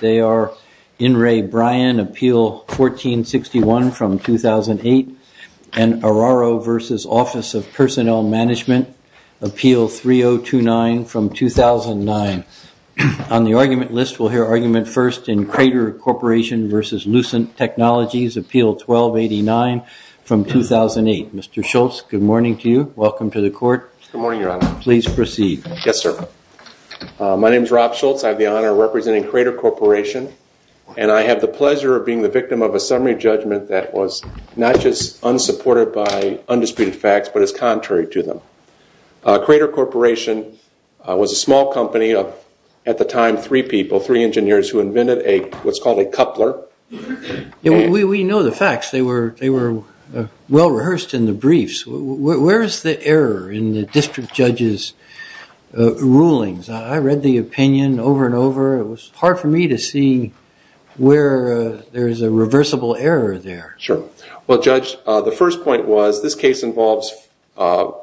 They are In Re. Bryan, Appeal 1461 from 2008, and Araro v. Office of Personnel Management, Appeal 3029 from 2009. On the argument list, we'll hear argument first in Crater Corporation v. Lucent Technologies, Appeal 1289 from 2008. Mr. Schultz, good morning to you. Welcome to the court. Good morning, Your Honor. Please proceed. Yes, sir. My name is Rob Schultz. I have the honor of representing Crater Corporation, and I have the pleasure of being the victim of a summary judgment that was not just unsupported by undisputed facts, but is contrary to them. Crater Corporation was a small company of, at the time, three people, three engineers, who invented what's called a coupler. We know the facts. They were well rehearsed in the briefs. Where is the error in the district judge's rulings? I read the opinion over and over. It was hard for me to see where there is a reversible error there. Sure. Well, Judge, the first point was this case involves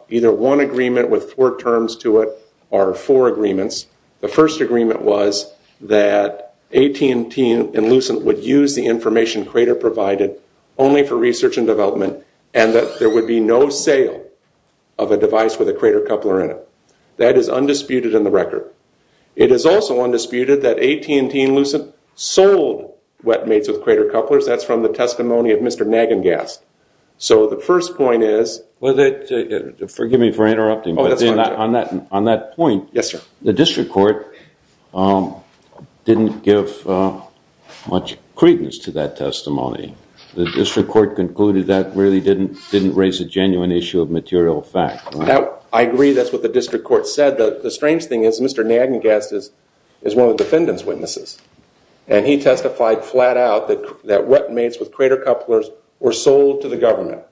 either one agreement with four terms to it or four agreements. The first agreement was that AT&T and Lucent would use the information Crater provided for research and development, and that there would be no sale of a device with a Crater coupler in it. That is undisputed in the record. It is also undisputed that AT&T and Lucent sold wet-mates with Crater couplers. That's from the testimony of Mr. Nagengast. So the first point is... Well, forgive me for interrupting, but on that point, the district court didn't give much credence to that testimony. The district court concluded that really didn't raise a genuine issue of material fact. I agree. That's what the district court said. The strange thing is, Mr. Nagengast is one of the defendant's witnesses, and he testified flat out that wet-mates with Crater couplers were sold to the government.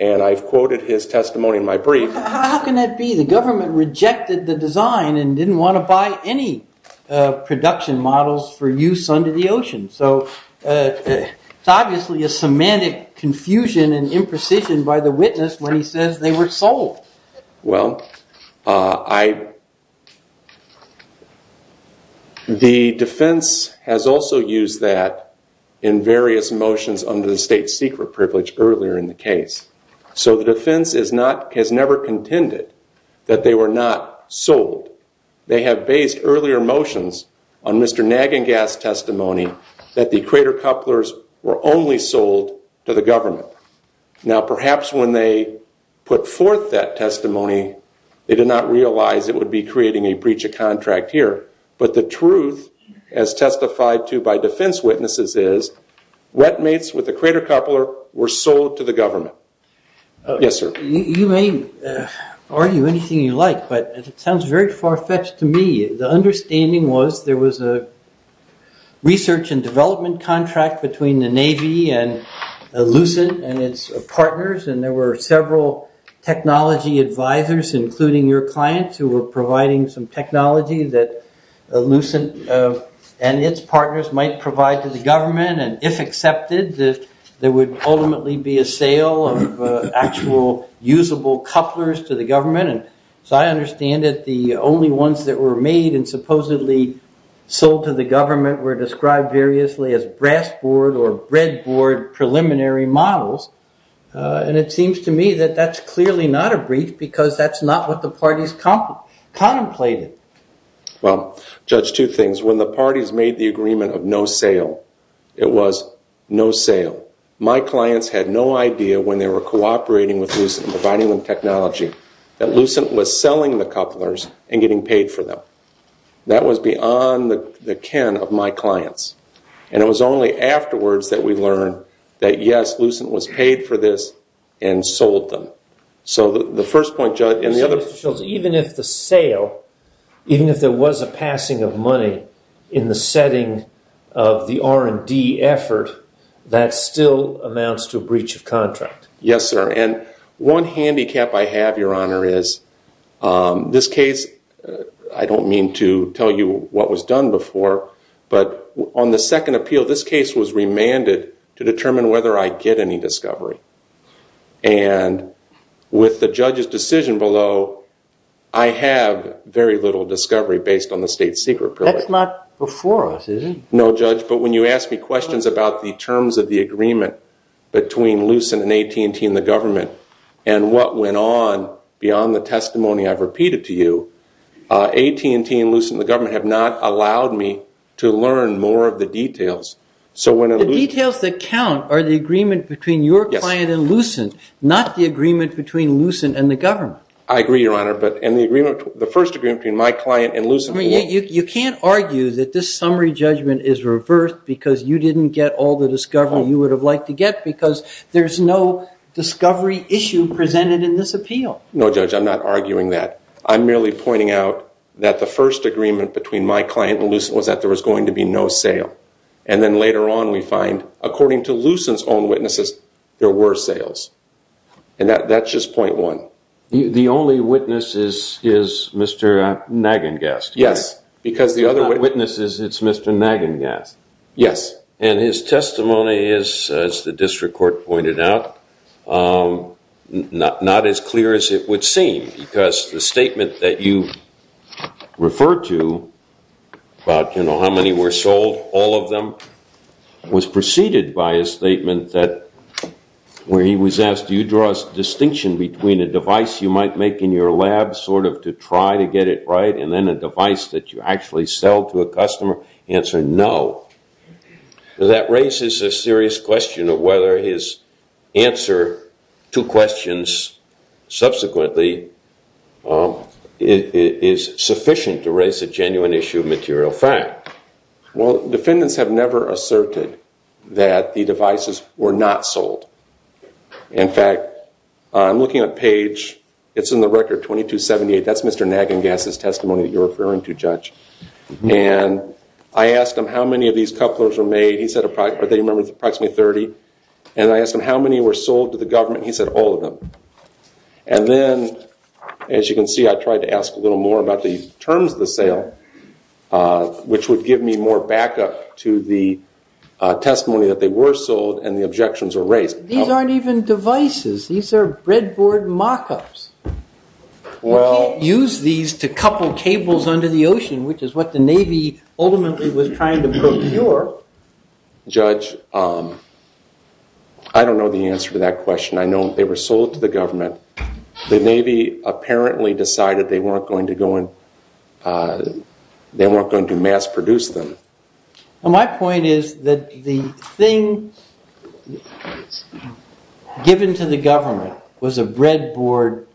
And I've quoted his testimony in my brief. How can that be? The government rejected the design and didn't want to buy any production models for use under the ocean. So it's obviously a semantic confusion and imprecision by the witness when he says they were sold. Well, the defense has also used that in various motions under the state's secret privilege earlier in the case. So the defense has never contended that they were not sold. They have based earlier motions on Mr. Nagengast's testimony that the Crater couplers were only sold to the government. Now perhaps when they put forth that testimony, they did not realize it would be creating a breach of contract here. But the truth, as testified to by defense witnesses, is wet-mates with the Crater coupler were sold to the government. Yes, sir. You may argue anything you like, but it sounds very far-fetched to me. The understanding was there was a research and development contract between the Navy and Ellucent and its partners, and there were several technology advisors, including your clients who were providing some technology that Ellucent and its partners might provide to the government. And if accepted, there would ultimately be a sale of actual usable couplers to the government. And so I understand that the only ones that were made and supposedly sold to the government were described variously as brass board or breadboard preliminary models. And it seems to me that that's clearly not a breach, because that's not what the parties contemplated. Well, Judge, two things. When the parties made the agreement of no sale, it was no sale. My clients had no idea when they were cooperating with Ellucent and providing them technology that Ellucent was selling the couplers and getting paid for them. That was beyond the ken of my clients. And it was only afterwards that we learned that, yes, Ellucent was paid for this and sold them. So the first point, Judge, and the other... Even if the sale, even if there was a passing of money in the setting of the R&D effort, that still amounts to a breach of contract. Yes, sir. And one handicap I have, Your Honor, is this case, I don't mean to tell you what was done before, but on the second appeal, this case was remanded to determine whether I'd get any discovery. And with the judge's decision below, I have very little discovery based on the state secret period. That's not before us, is it? No, Judge, but when you ask me questions about the terms of the agreement between Ellucent and AT&T and the government and what went on beyond the testimony I've repeated to you, AT&T and Ellucent and the government have not allowed me to learn more of the details. So when Ellucent... My client and Ellucent, not the agreement between Ellucent and the government. I agree, Your Honor, but in the agreement, the first agreement between my client and Ellucent... You can't argue that this summary judgment is reversed because you didn't get all the discovery you would have liked to get because there's no discovery issue presented in this appeal. No, Judge, I'm not arguing that. I'm merely pointing out that the first agreement between my client and Ellucent was that there was going to be no sale. And then later on, we find, according to Ellucent's own witnesses, there were sales. And that's just point one. The only witness is Mr. Nagengast. Yes. Because the other witnesses, it's Mr. Nagengast. Yes. And his testimony is, as the district court pointed out, not as clear as it would seem because the statement that you refer to about how many were sold, all of them, was preceded by a statement that where he was asked, do you draw a distinction between a device you might make in your lab sort of to try to get it right and then a device that you actually sell to a customer, answer no. That raises a serious question of whether his answer to questions subsequently is sufficient to raise a genuine issue of material fact. Well, defendants have never asserted that the devices were not sold. In fact, I'm looking at page, it's in the record, 2278. That's Mr. Nagengast's testimony that you're referring to, Judge. And I asked him how many of these couplers were made. He said approximately 30. And I asked him how many were sold to the government. He said all of them. And then, as you can see, I tried to ask a little more about the terms of the sale, which would give me more backup to the testimony that they were sold and the objections were raised. These aren't even devices. These are breadboard mock-ups. You can't use these to couple cables under the ocean, which is what the Navy ultimately was trying to procure. Judge, I don't know the answer to that question. I know they were sold to the government. The Navy apparently decided they weren't going to mass produce them. My point is that the thing given to the government was a breadboard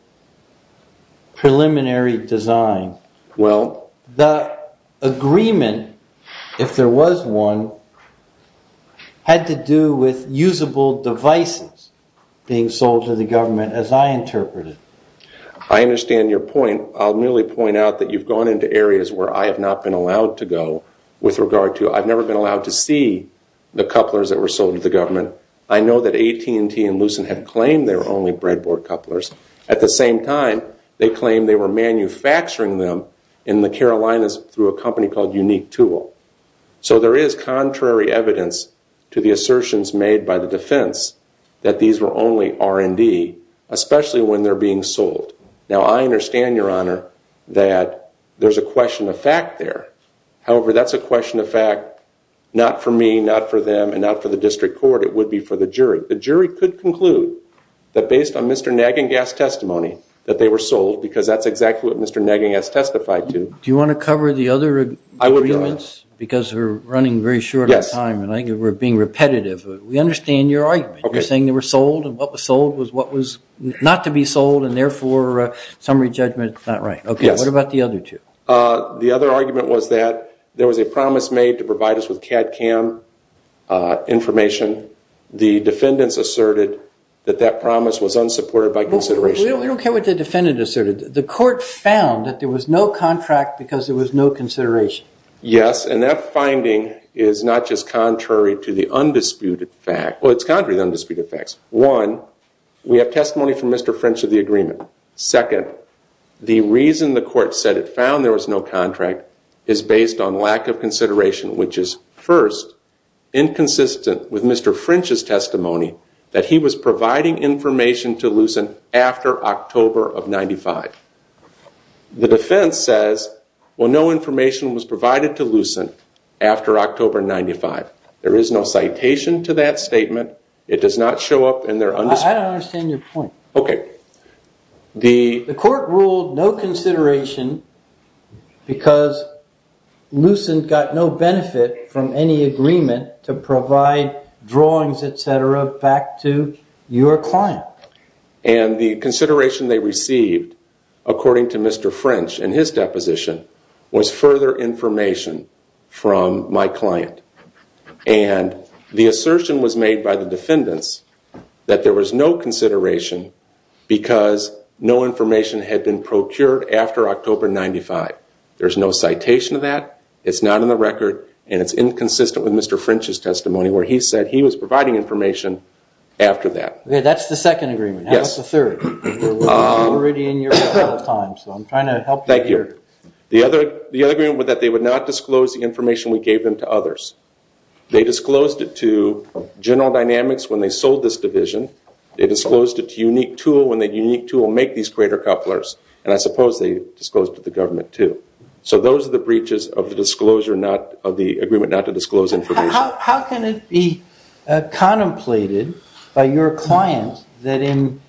preliminary design. The agreement, if there was one, had to do with usable devices being sold to the government, as I interpret it. I understand your point. I'll merely point out that you've gone into areas where I have not been allowed to go with regard to, I've never been allowed to see the couplers that were sold to the government. I know that AT&T and Lucent have claimed they were only breadboard couplers. At the same time, they claim they were manufacturing them in the Carolinas through a company called Unique Tool. So there is contrary evidence to the assertions made by the defense that these were only R&D, especially when they're being sold. Now I understand, Your Honor, that there's a question of fact there. However, that's a question of fact not for me, not for them, and not for the District Court. It would be for the jury. The jury could conclude that based on Mr. Nagengast's testimony, that they were sold because that's exactly what Mr. Nagengast testified to. Do you want to cover the other agreements? I would, Your Honor. Because we're running very short on time and I think we're being repetitive. We understand your argument. You're saying they were sold and what was sold was what was not to be sold and therefore summary judgment is not right. Okay, what about the other two? The other argument was that there was a promise made to provide us with CAD CAM information. The defendants asserted that that promise was unsupported by consideration. We don't care what the defendant asserted. The court found that there was no contract because there was no consideration. Yes, and that finding is not just contrary to the undisputed facts. Well, it's contrary to the undisputed facts. One, we have testimony from Mr. French of the agreement. Second, the reason the court said it found there was no contract is based on lack of consideration, which is first, inconsistent with Mr. French's testimony that he was providing information to Lucent after October of 95. The defense says, well, no information was provided to Lucent after October 95. There is no citation to that statement. It does not show up in their undisputed facts. I don't understand your point. The court ruled no consideration because Lucent got no benefit from any agreement to provide drawings, etc. back to your client. And the consideration they received, according to Mr. French in his deposition, was further information from my client. And the assertion was made by the defendants that there was no consideration because no information had been procured after October 95. There's no citation to that. It's not in the record. And it's inconsistent with Mr. French's testimony where he said he was providing information after that. Okay, that's the second agreement. How about the third? We're already in your time, so I'm trying to help you here. The other agreement was that they would not disclose the information we gave them to others. They disclosed it to General Dynamics when they sold this division. They disclosed it to Unique Tool when they made these greater couplers. And I suppose they disclosed it to the government, too. So those are the breaches of the agreement not to disclose information. How can it be contemplated by your client that in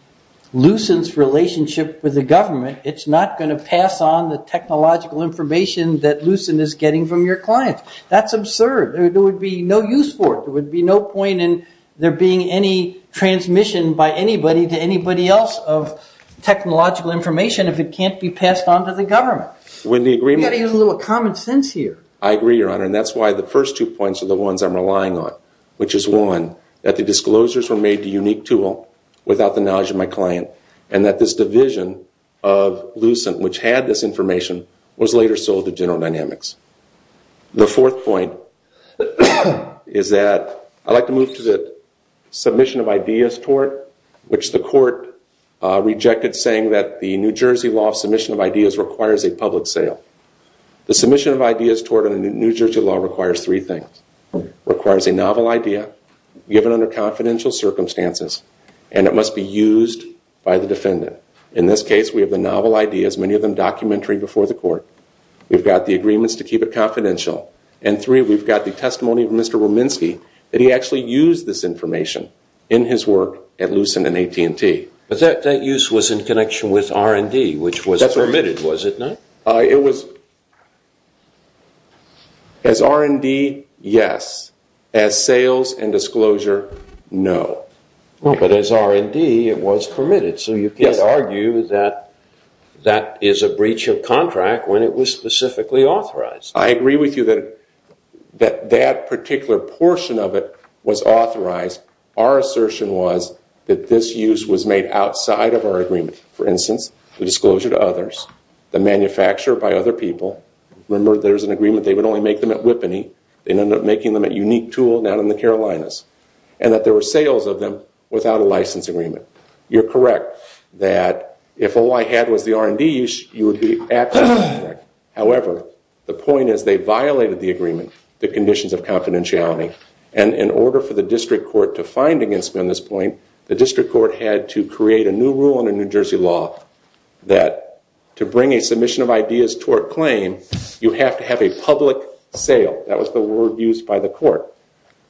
Lucent's relationship with the government, it's not going to pass on the technological information that Lucent is getting from your client? That's absurd. There would be no use for it. There would be no point in there being any transmission by anybody to anybody else of technological information if it can't be passed on to the government. We've got to use a little common sense here. I agree, Your Honor, and that's why the first two points are the ones I'm relying on, which is, one, that the disclosures were made to Unique Tool without the knowledge of my client, and that this division of Lucent, which had this information, was later sold to General Dynamics. The fourth point is that I'd like to move to the submission of ideas tort, which the court rejected saying that the New Jersey law submission of ideas requires a public sale. The submission of ideas tort in the New Jersey law requires three things. It requires a novel idea given under confidential circumstances, and it must be used by the defendant. In this case, we have the novel ideas, many of them documentary before the court. We've got the agreements to keep it confidential, and three, we've got the testimony of Mr. Ruminski that he actually used this information in his work at Lucent and AT&T. But that use was in connection with R&D, which was permitted, was it not? It was. As R&D, yes. As sales and disclosure, no. But as R&D, it was permitted, so you can't argue that that is a breach of contract when it was specifically authorized. I agree with you that that particular portion of it was authorized. Our assertion was that this use was made outside of our agreement. For instance, the disclosure to others, the manufacture by other people. Remember, there was an agreement they would only make them at Whippany. They ended up making them at Unique Tool down in the Carolinas, and that there were sales of them without a license agreement. You're correct that if all I had was the R&D, you would be absolutely correct. However, the point is they violated the agreement, the conditions of confidentiality, and in order for the district court to find against me on this point, the district court had to create a new rule under New Jersey law that to bring a submission of ideas toward claim, you have to have a public sale. That was the word used by the court.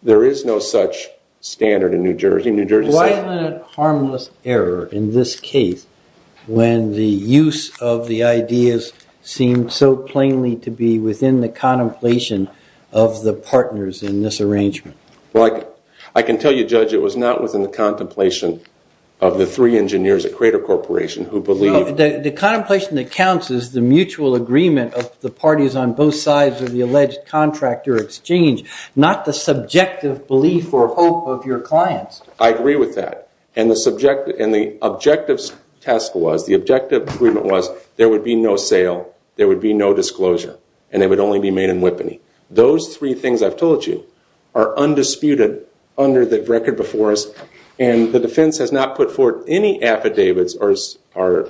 There is no such standard in New Jersey. Violent, harmless error in this case when the use of the ideas seemed so plainly to be within the contemplation of the partners in this arrangement. I can tell you, Judge, it was not within the contemplation of the three engineers at Crater Corporation who believed... The contemplation that counts is the mutual agreement of the parties on both sides of the alleged contractor exchange, not the subjective belief or hope of your clients. I agree with that. The objective agreement was there would be no sale, there would be no disclosure, and they would only be made in Whippany. Those three things I've told you are undisputed under the record before us, and the defense has not put forward any affidavits or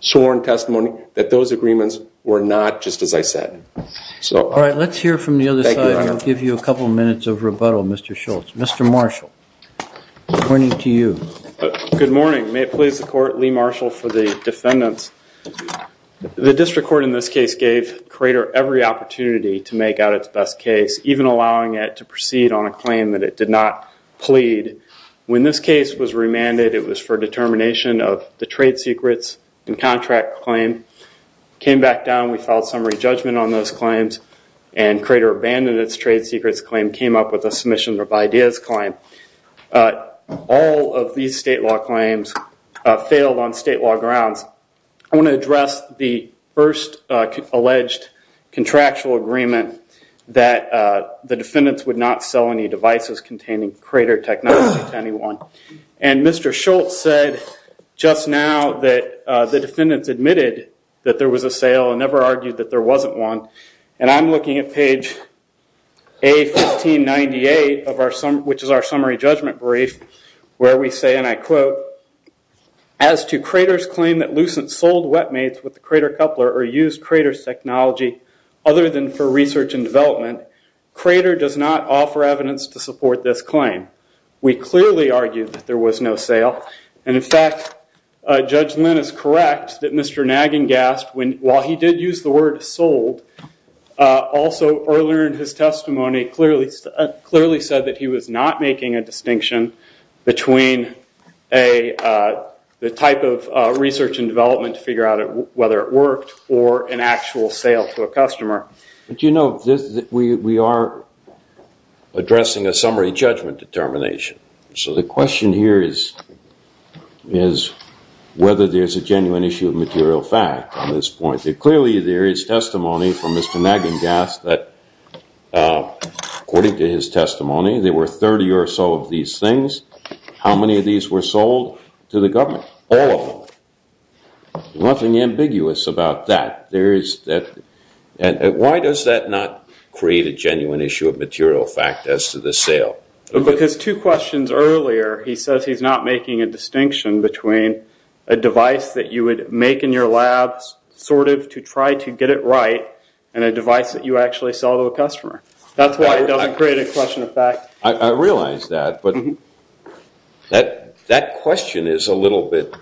sworn testimony that those agreements were not just as I said. All right, let's hear from the other side. I'll give you a couple minutes of rebuttal, Mr. Schultz. Mr. Marshall, pointing to you. Good morning. May it please the court, Lee Marshall for the defendants. The district court in this case gave Crater every opportunity to make out its best case, even allowing it to proceed on a claim that it did not plead. When this case was remanded, it was for determination of the trade secrets and contract claim. Came back down, we filed summary judgment on those claims, and Crater abandoned its trade secrets claim, came up with a submission of ideas claim. All of these state law claims failed on state law grounds. I want to address the first alleged contractual agreement that the defendants would not sell any devices containing Crater technology to anyone. And Mr. Schultz said just now that the defendants admitted that there was a sale and never argued that there wasn't one. And I'm looking at page A1598, which is our summary judgment brief, where we say, and I quote, as to Crater's claim that Lucent sold wet mates with the Crater coupler or used Crater's technology other than for research and development, Crater does not offer evidence to support this claim. We clearly argued that there was no sale. And in fact, Judge Lynn is correct that Mr. Nagengast, while he did use the word sold, also earlier in his testimony clearly said that he was not making a distinction between the type of research and development to figure out whether it worked or an actual sale to a customer. But you know, we are addressing a summary judgment determination. So the question here is whether there's a genuine issue of material fact on this point. Clearly there is testimony from Mr. Nagengast that, according to his testimony, there were 30 or so of these things. How many of these were sold to the government? All of them. Nothing ambiguous about that. Why does that not create a genuine issue of material fact as to the sale? Because two questions earlier, he says he's not making a distinction between a device that you would make in your labs sort of to try to get it right and a device that you actually sell to a customer. That's why it doesn't create a question of fact. I realize that, but that question is a little bit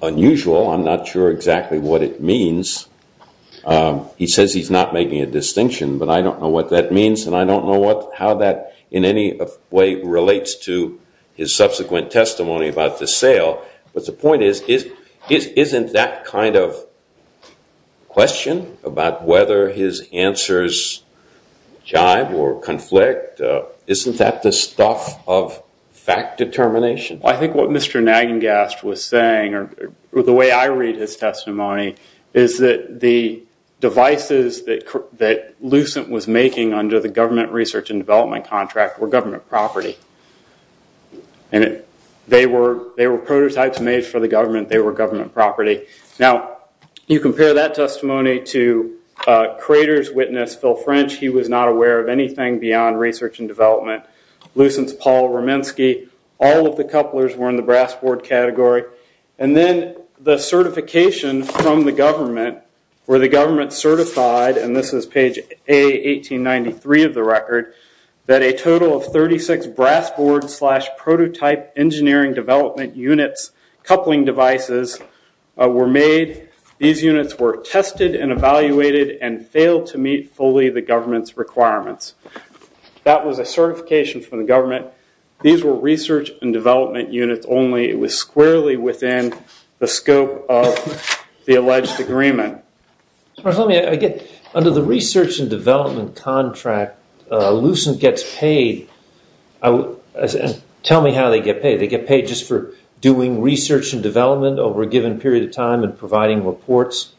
unusual. I'm not sure exactly what it means. He says he's not making a distinction, but I don't know what that means and I don't know how that in any way relates to his subsequent testimony about the sale. But the point is, isn't that kind of question about whether his answers jive or conflict, isn't that the stuff of fact determination? I think what Mr. Nagengast was saying, or the way I read his testimony, is that the devices that Lucent was making under the government research and development contract were government property. They were prototypes made for the government. They were government property. Now, you compare that testimony to Crater's witness, Phil French. He was not aware of anything beyond research and development. Lucent's Paul Romanski. All of the couplers were in the brass board category. And then the certification from the government, where the government certified, and this is page A1893 of the record, that a total of 36 brass board slash prototype engineering development units coupling devices were made. These units were tested and evaluated and failed to meet fully the government's requirements. That was a certification from the government. These were research and development units only. It was squarely within the scope of the alleged agreement. Under the research and development contract, Lucent gets paid. Tell me how they get paid. They get paid just for doing research and development over a given period of time and providing reports?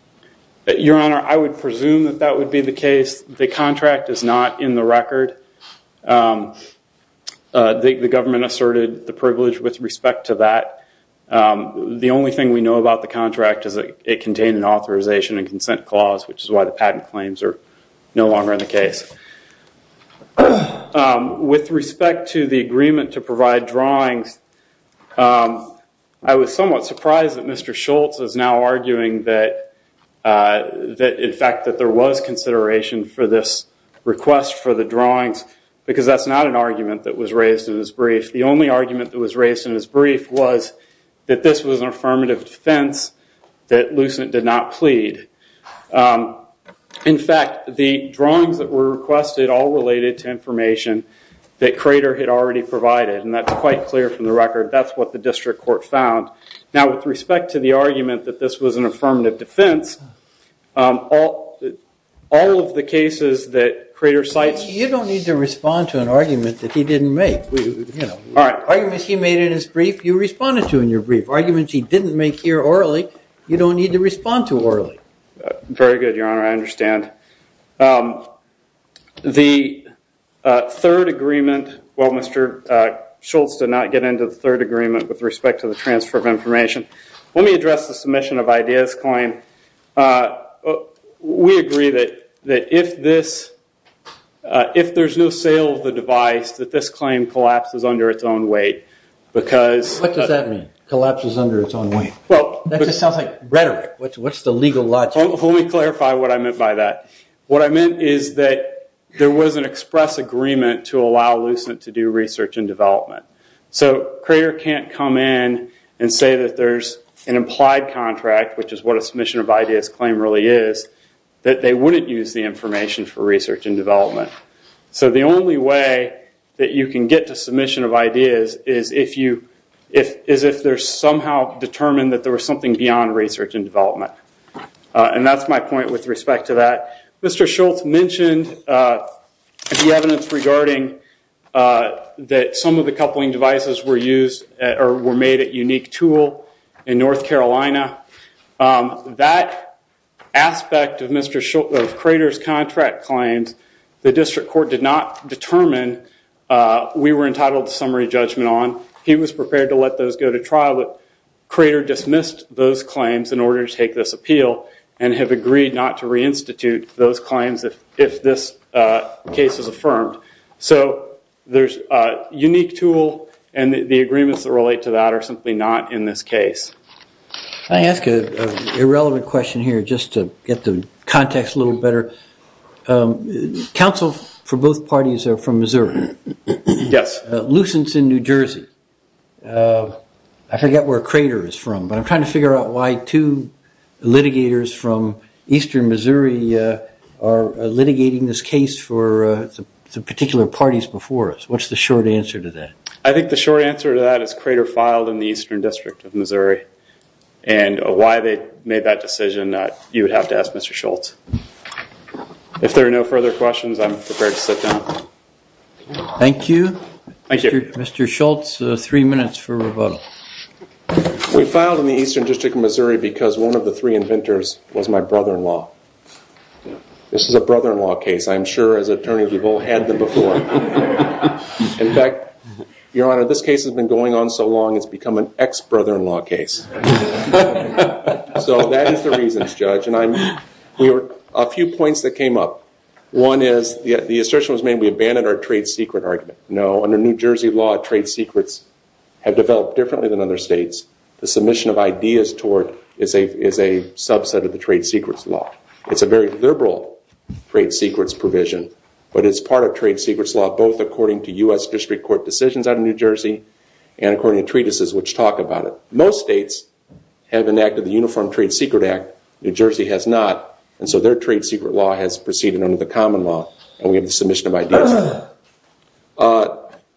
Your Honor, I would presume that that would be the case. The contract is not in the record. The government asserted the privilege with respect to that. The only thing we know about the contract is that it contained an authorization and consent clause, which is why the patent claims are no longer in the case. With respect to the agreement to provide drawings, I was somewhat surprised that Mr. Schultz is now arguing that, in fact, that there was consideration for this request for the drawings, because that's not an argument that was raised in his brief. The only argument that was raised in his brief was that this was an affirmative defense that Lucent did not plead. In fact, the drawings that were requested all related to information that Crater had already provided, and that's quite clear from the record. That's what the district court found. Now, with respect to the argument that this was an affirmative defense, all of the cases that Crater cites- Arguments he made in his brief, you responded to in your brief. Arguments he didn't make here orally, you don't need to respond to orally. Very good, Your Honor. I understand. The third agreement-well, Mr. Schultz did not get into the third agreement with respect to the transfer of information. Let me address the submission of Ideas Claim. We agree that if there's no sale of the device, that this claim collapses under its own weight. What does that mean, collapses under its own weight? That just sounds like rhetoric. What's the legal logic? Let me clarify what I meant by that. What I meant is that there was an express agreement to allow Lucent to do research and development. Crater can't come in and say that there's an implied contract, which is what a submission of Ideas Claim really is, that they wouldn't use the information for research and development. The only way that you can get to submission of Ideas is if there's somehow determined that there was something beyond research and development. That's my point with respect to that. Mr. Schultz mentioned the evidence regarding that some of the coupling devices were made at Unique Tool in North Carolina. That aspect of Crater's contract claims, the district court did not determine. We were entitled to summary judgment on. He was prepared to let those go to trial, but Crater dismissed those claims in order to take this appeal and have agreed not to reinstitute those claims if this case is affirmed. So there's Unique Tool and the agreements that relate to that are simply not in this case. I ask an irrelevant question here just to get the context a little better. Counsel for both parties are from Missouri. Yes. Lucent's in New Jersey. I forget where Crater is from, but I'm trying to figure out why two litigators from eastern Missouri are litigating this case for some particular parties before us. What's the short answer to that? I think the short answer to that is Crater filed in the eastern district of Missouri. And why they made that decision, you would have to ask Mr. Schultz. If there are no further questions, I'm prepared to sit down. Thank you. Thank you. Mr. Schultz, three minutes for rebuttal. We filed in the eastern district of Missouri because one of the three inventors was my brother-in-law. This is a brother-in-law case. I'm sure as attorneys we've all had them before. In fact, Your Honor, this case has been going on so long it's become an ex-brother-in-law case. So that is the reasons, Judge. A few points that came up. One is the assertion was made we abandoned our trade secret argument. No, under New Jersey law, trade secrets have developed differently than other states. The submission of ideas is a subset of the trade secrets law. It's a very liberal trade secrets provision. But it's part of trade secrets law both according to U.S. District Court decisions out of New Jersey and according to treatises which talk about it. Most states have enacted the Uniform Trade Secret Act. New Jersey has not. And so their trade secret law has proceeded under the common law. And we have the submission of ideas.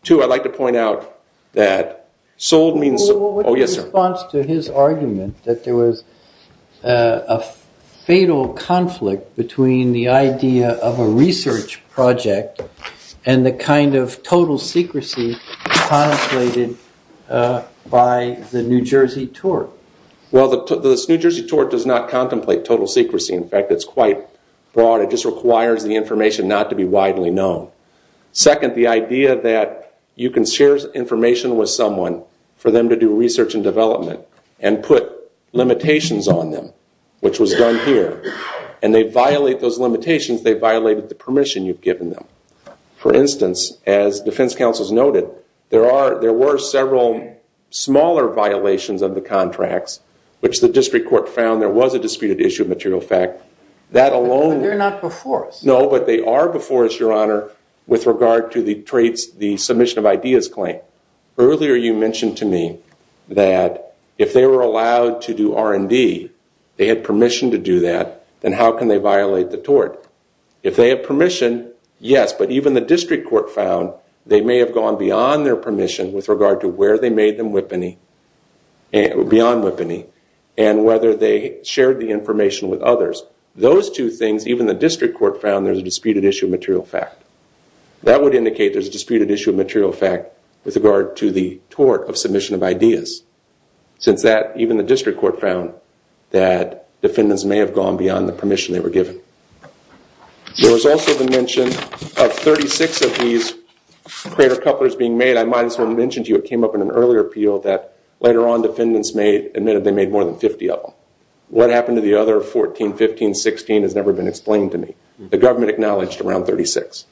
Two, I'd like to point out that sold means sold. Oh, yes, sir. In response to his argument that there was a fatal conflict between the idea of a research project and the kind of total secrecy contemplated by the New Jersey tort. Well, the New Jersey tort does not contemplate total secrecy. In fact, it's quite broad. It just requires the information not to be widely known. Second, the idea that you can share information with someone for them to do research and development and put limitations on them, which was done here. And they violate those limitations. They violated the permission you've given them. For instance, as defense counsels noted, there were several smaller violations of the contracts, which the district court found there was a disputed issue of material fact. They're not before us. No, but they are before us, Your Honor, with regard to the submission of ideas claim. Earlier you mentioned to me that if they were allowed to do R&D, they had permission to do that, then how can they violate the tort? If they have permission, yes. But even the district court found they may have gone beyond their permission with regard to where they made them whippany, beyond whippany, and whether they shared the information with others. Those two things, even the district court found there's a disputed issue of material fact. That would indicate there's a disputed issue of material fact with regard to the tort of submission of ideas. Since that, even the district court found that defendants may have gone beyond the permission they were given. There was also the mention of 36 of these crater couplers being made. I might as well mention to you it came up in an earlier appeal that later on defendants admitted they made more than 50 of them. What happened to the other 14, 15, 16 has never been explained to me. The government acknowledged around 36.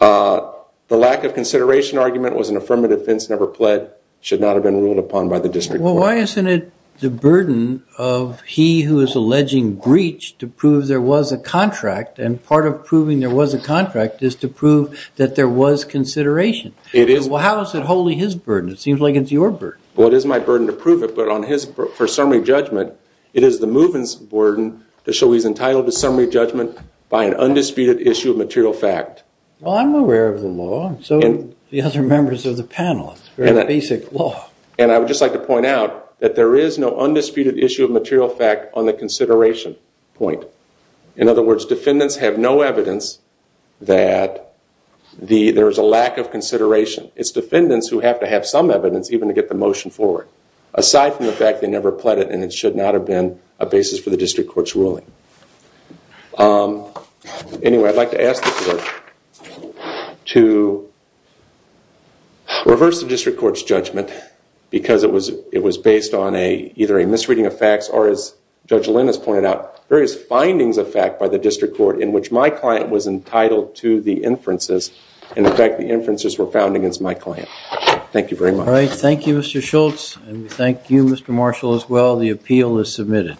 The lack of consideration argument was an affirmative fence never pled, should not have been ruled upon by the district court. Well, why isn't it the burden of he who is alleging breach to prove there was a contract, and part of proving there was a contract is to prove that there was consideration. It is. Well, how is it wholly his burden? It seems like it's your burden. Well, it is my burden to prove it, but for summary judgment, it is the movement's burden to show he's entitled to summary judgment by an undisputed issue of material fact. Well, I'm aware of the law. So are the other members of the panel. It's very basic law. And I would just like to point out that there is no undisputed issue of material fact on the consideration point. In other words, defendants have no evidence that there is a lack of consideration. It's defendants who have to have some evidence even to get the motion forward. Aside from the fact they never pled it and it should not have been a basis for the district court's ruling. Anyway, I'd like to ask the court to reverse the district court's judgment because it was based on either a misreading of facts or, as Judge Lin has pointed out, various findings of fact by the district court in which my client was entitled to the inferences. And, in fact, the inferences were found against my client. Thank you very much. All right. Thank you, Mr. Schultz. And we thank you, Mr. Marshall, as well. The appeal is submitted.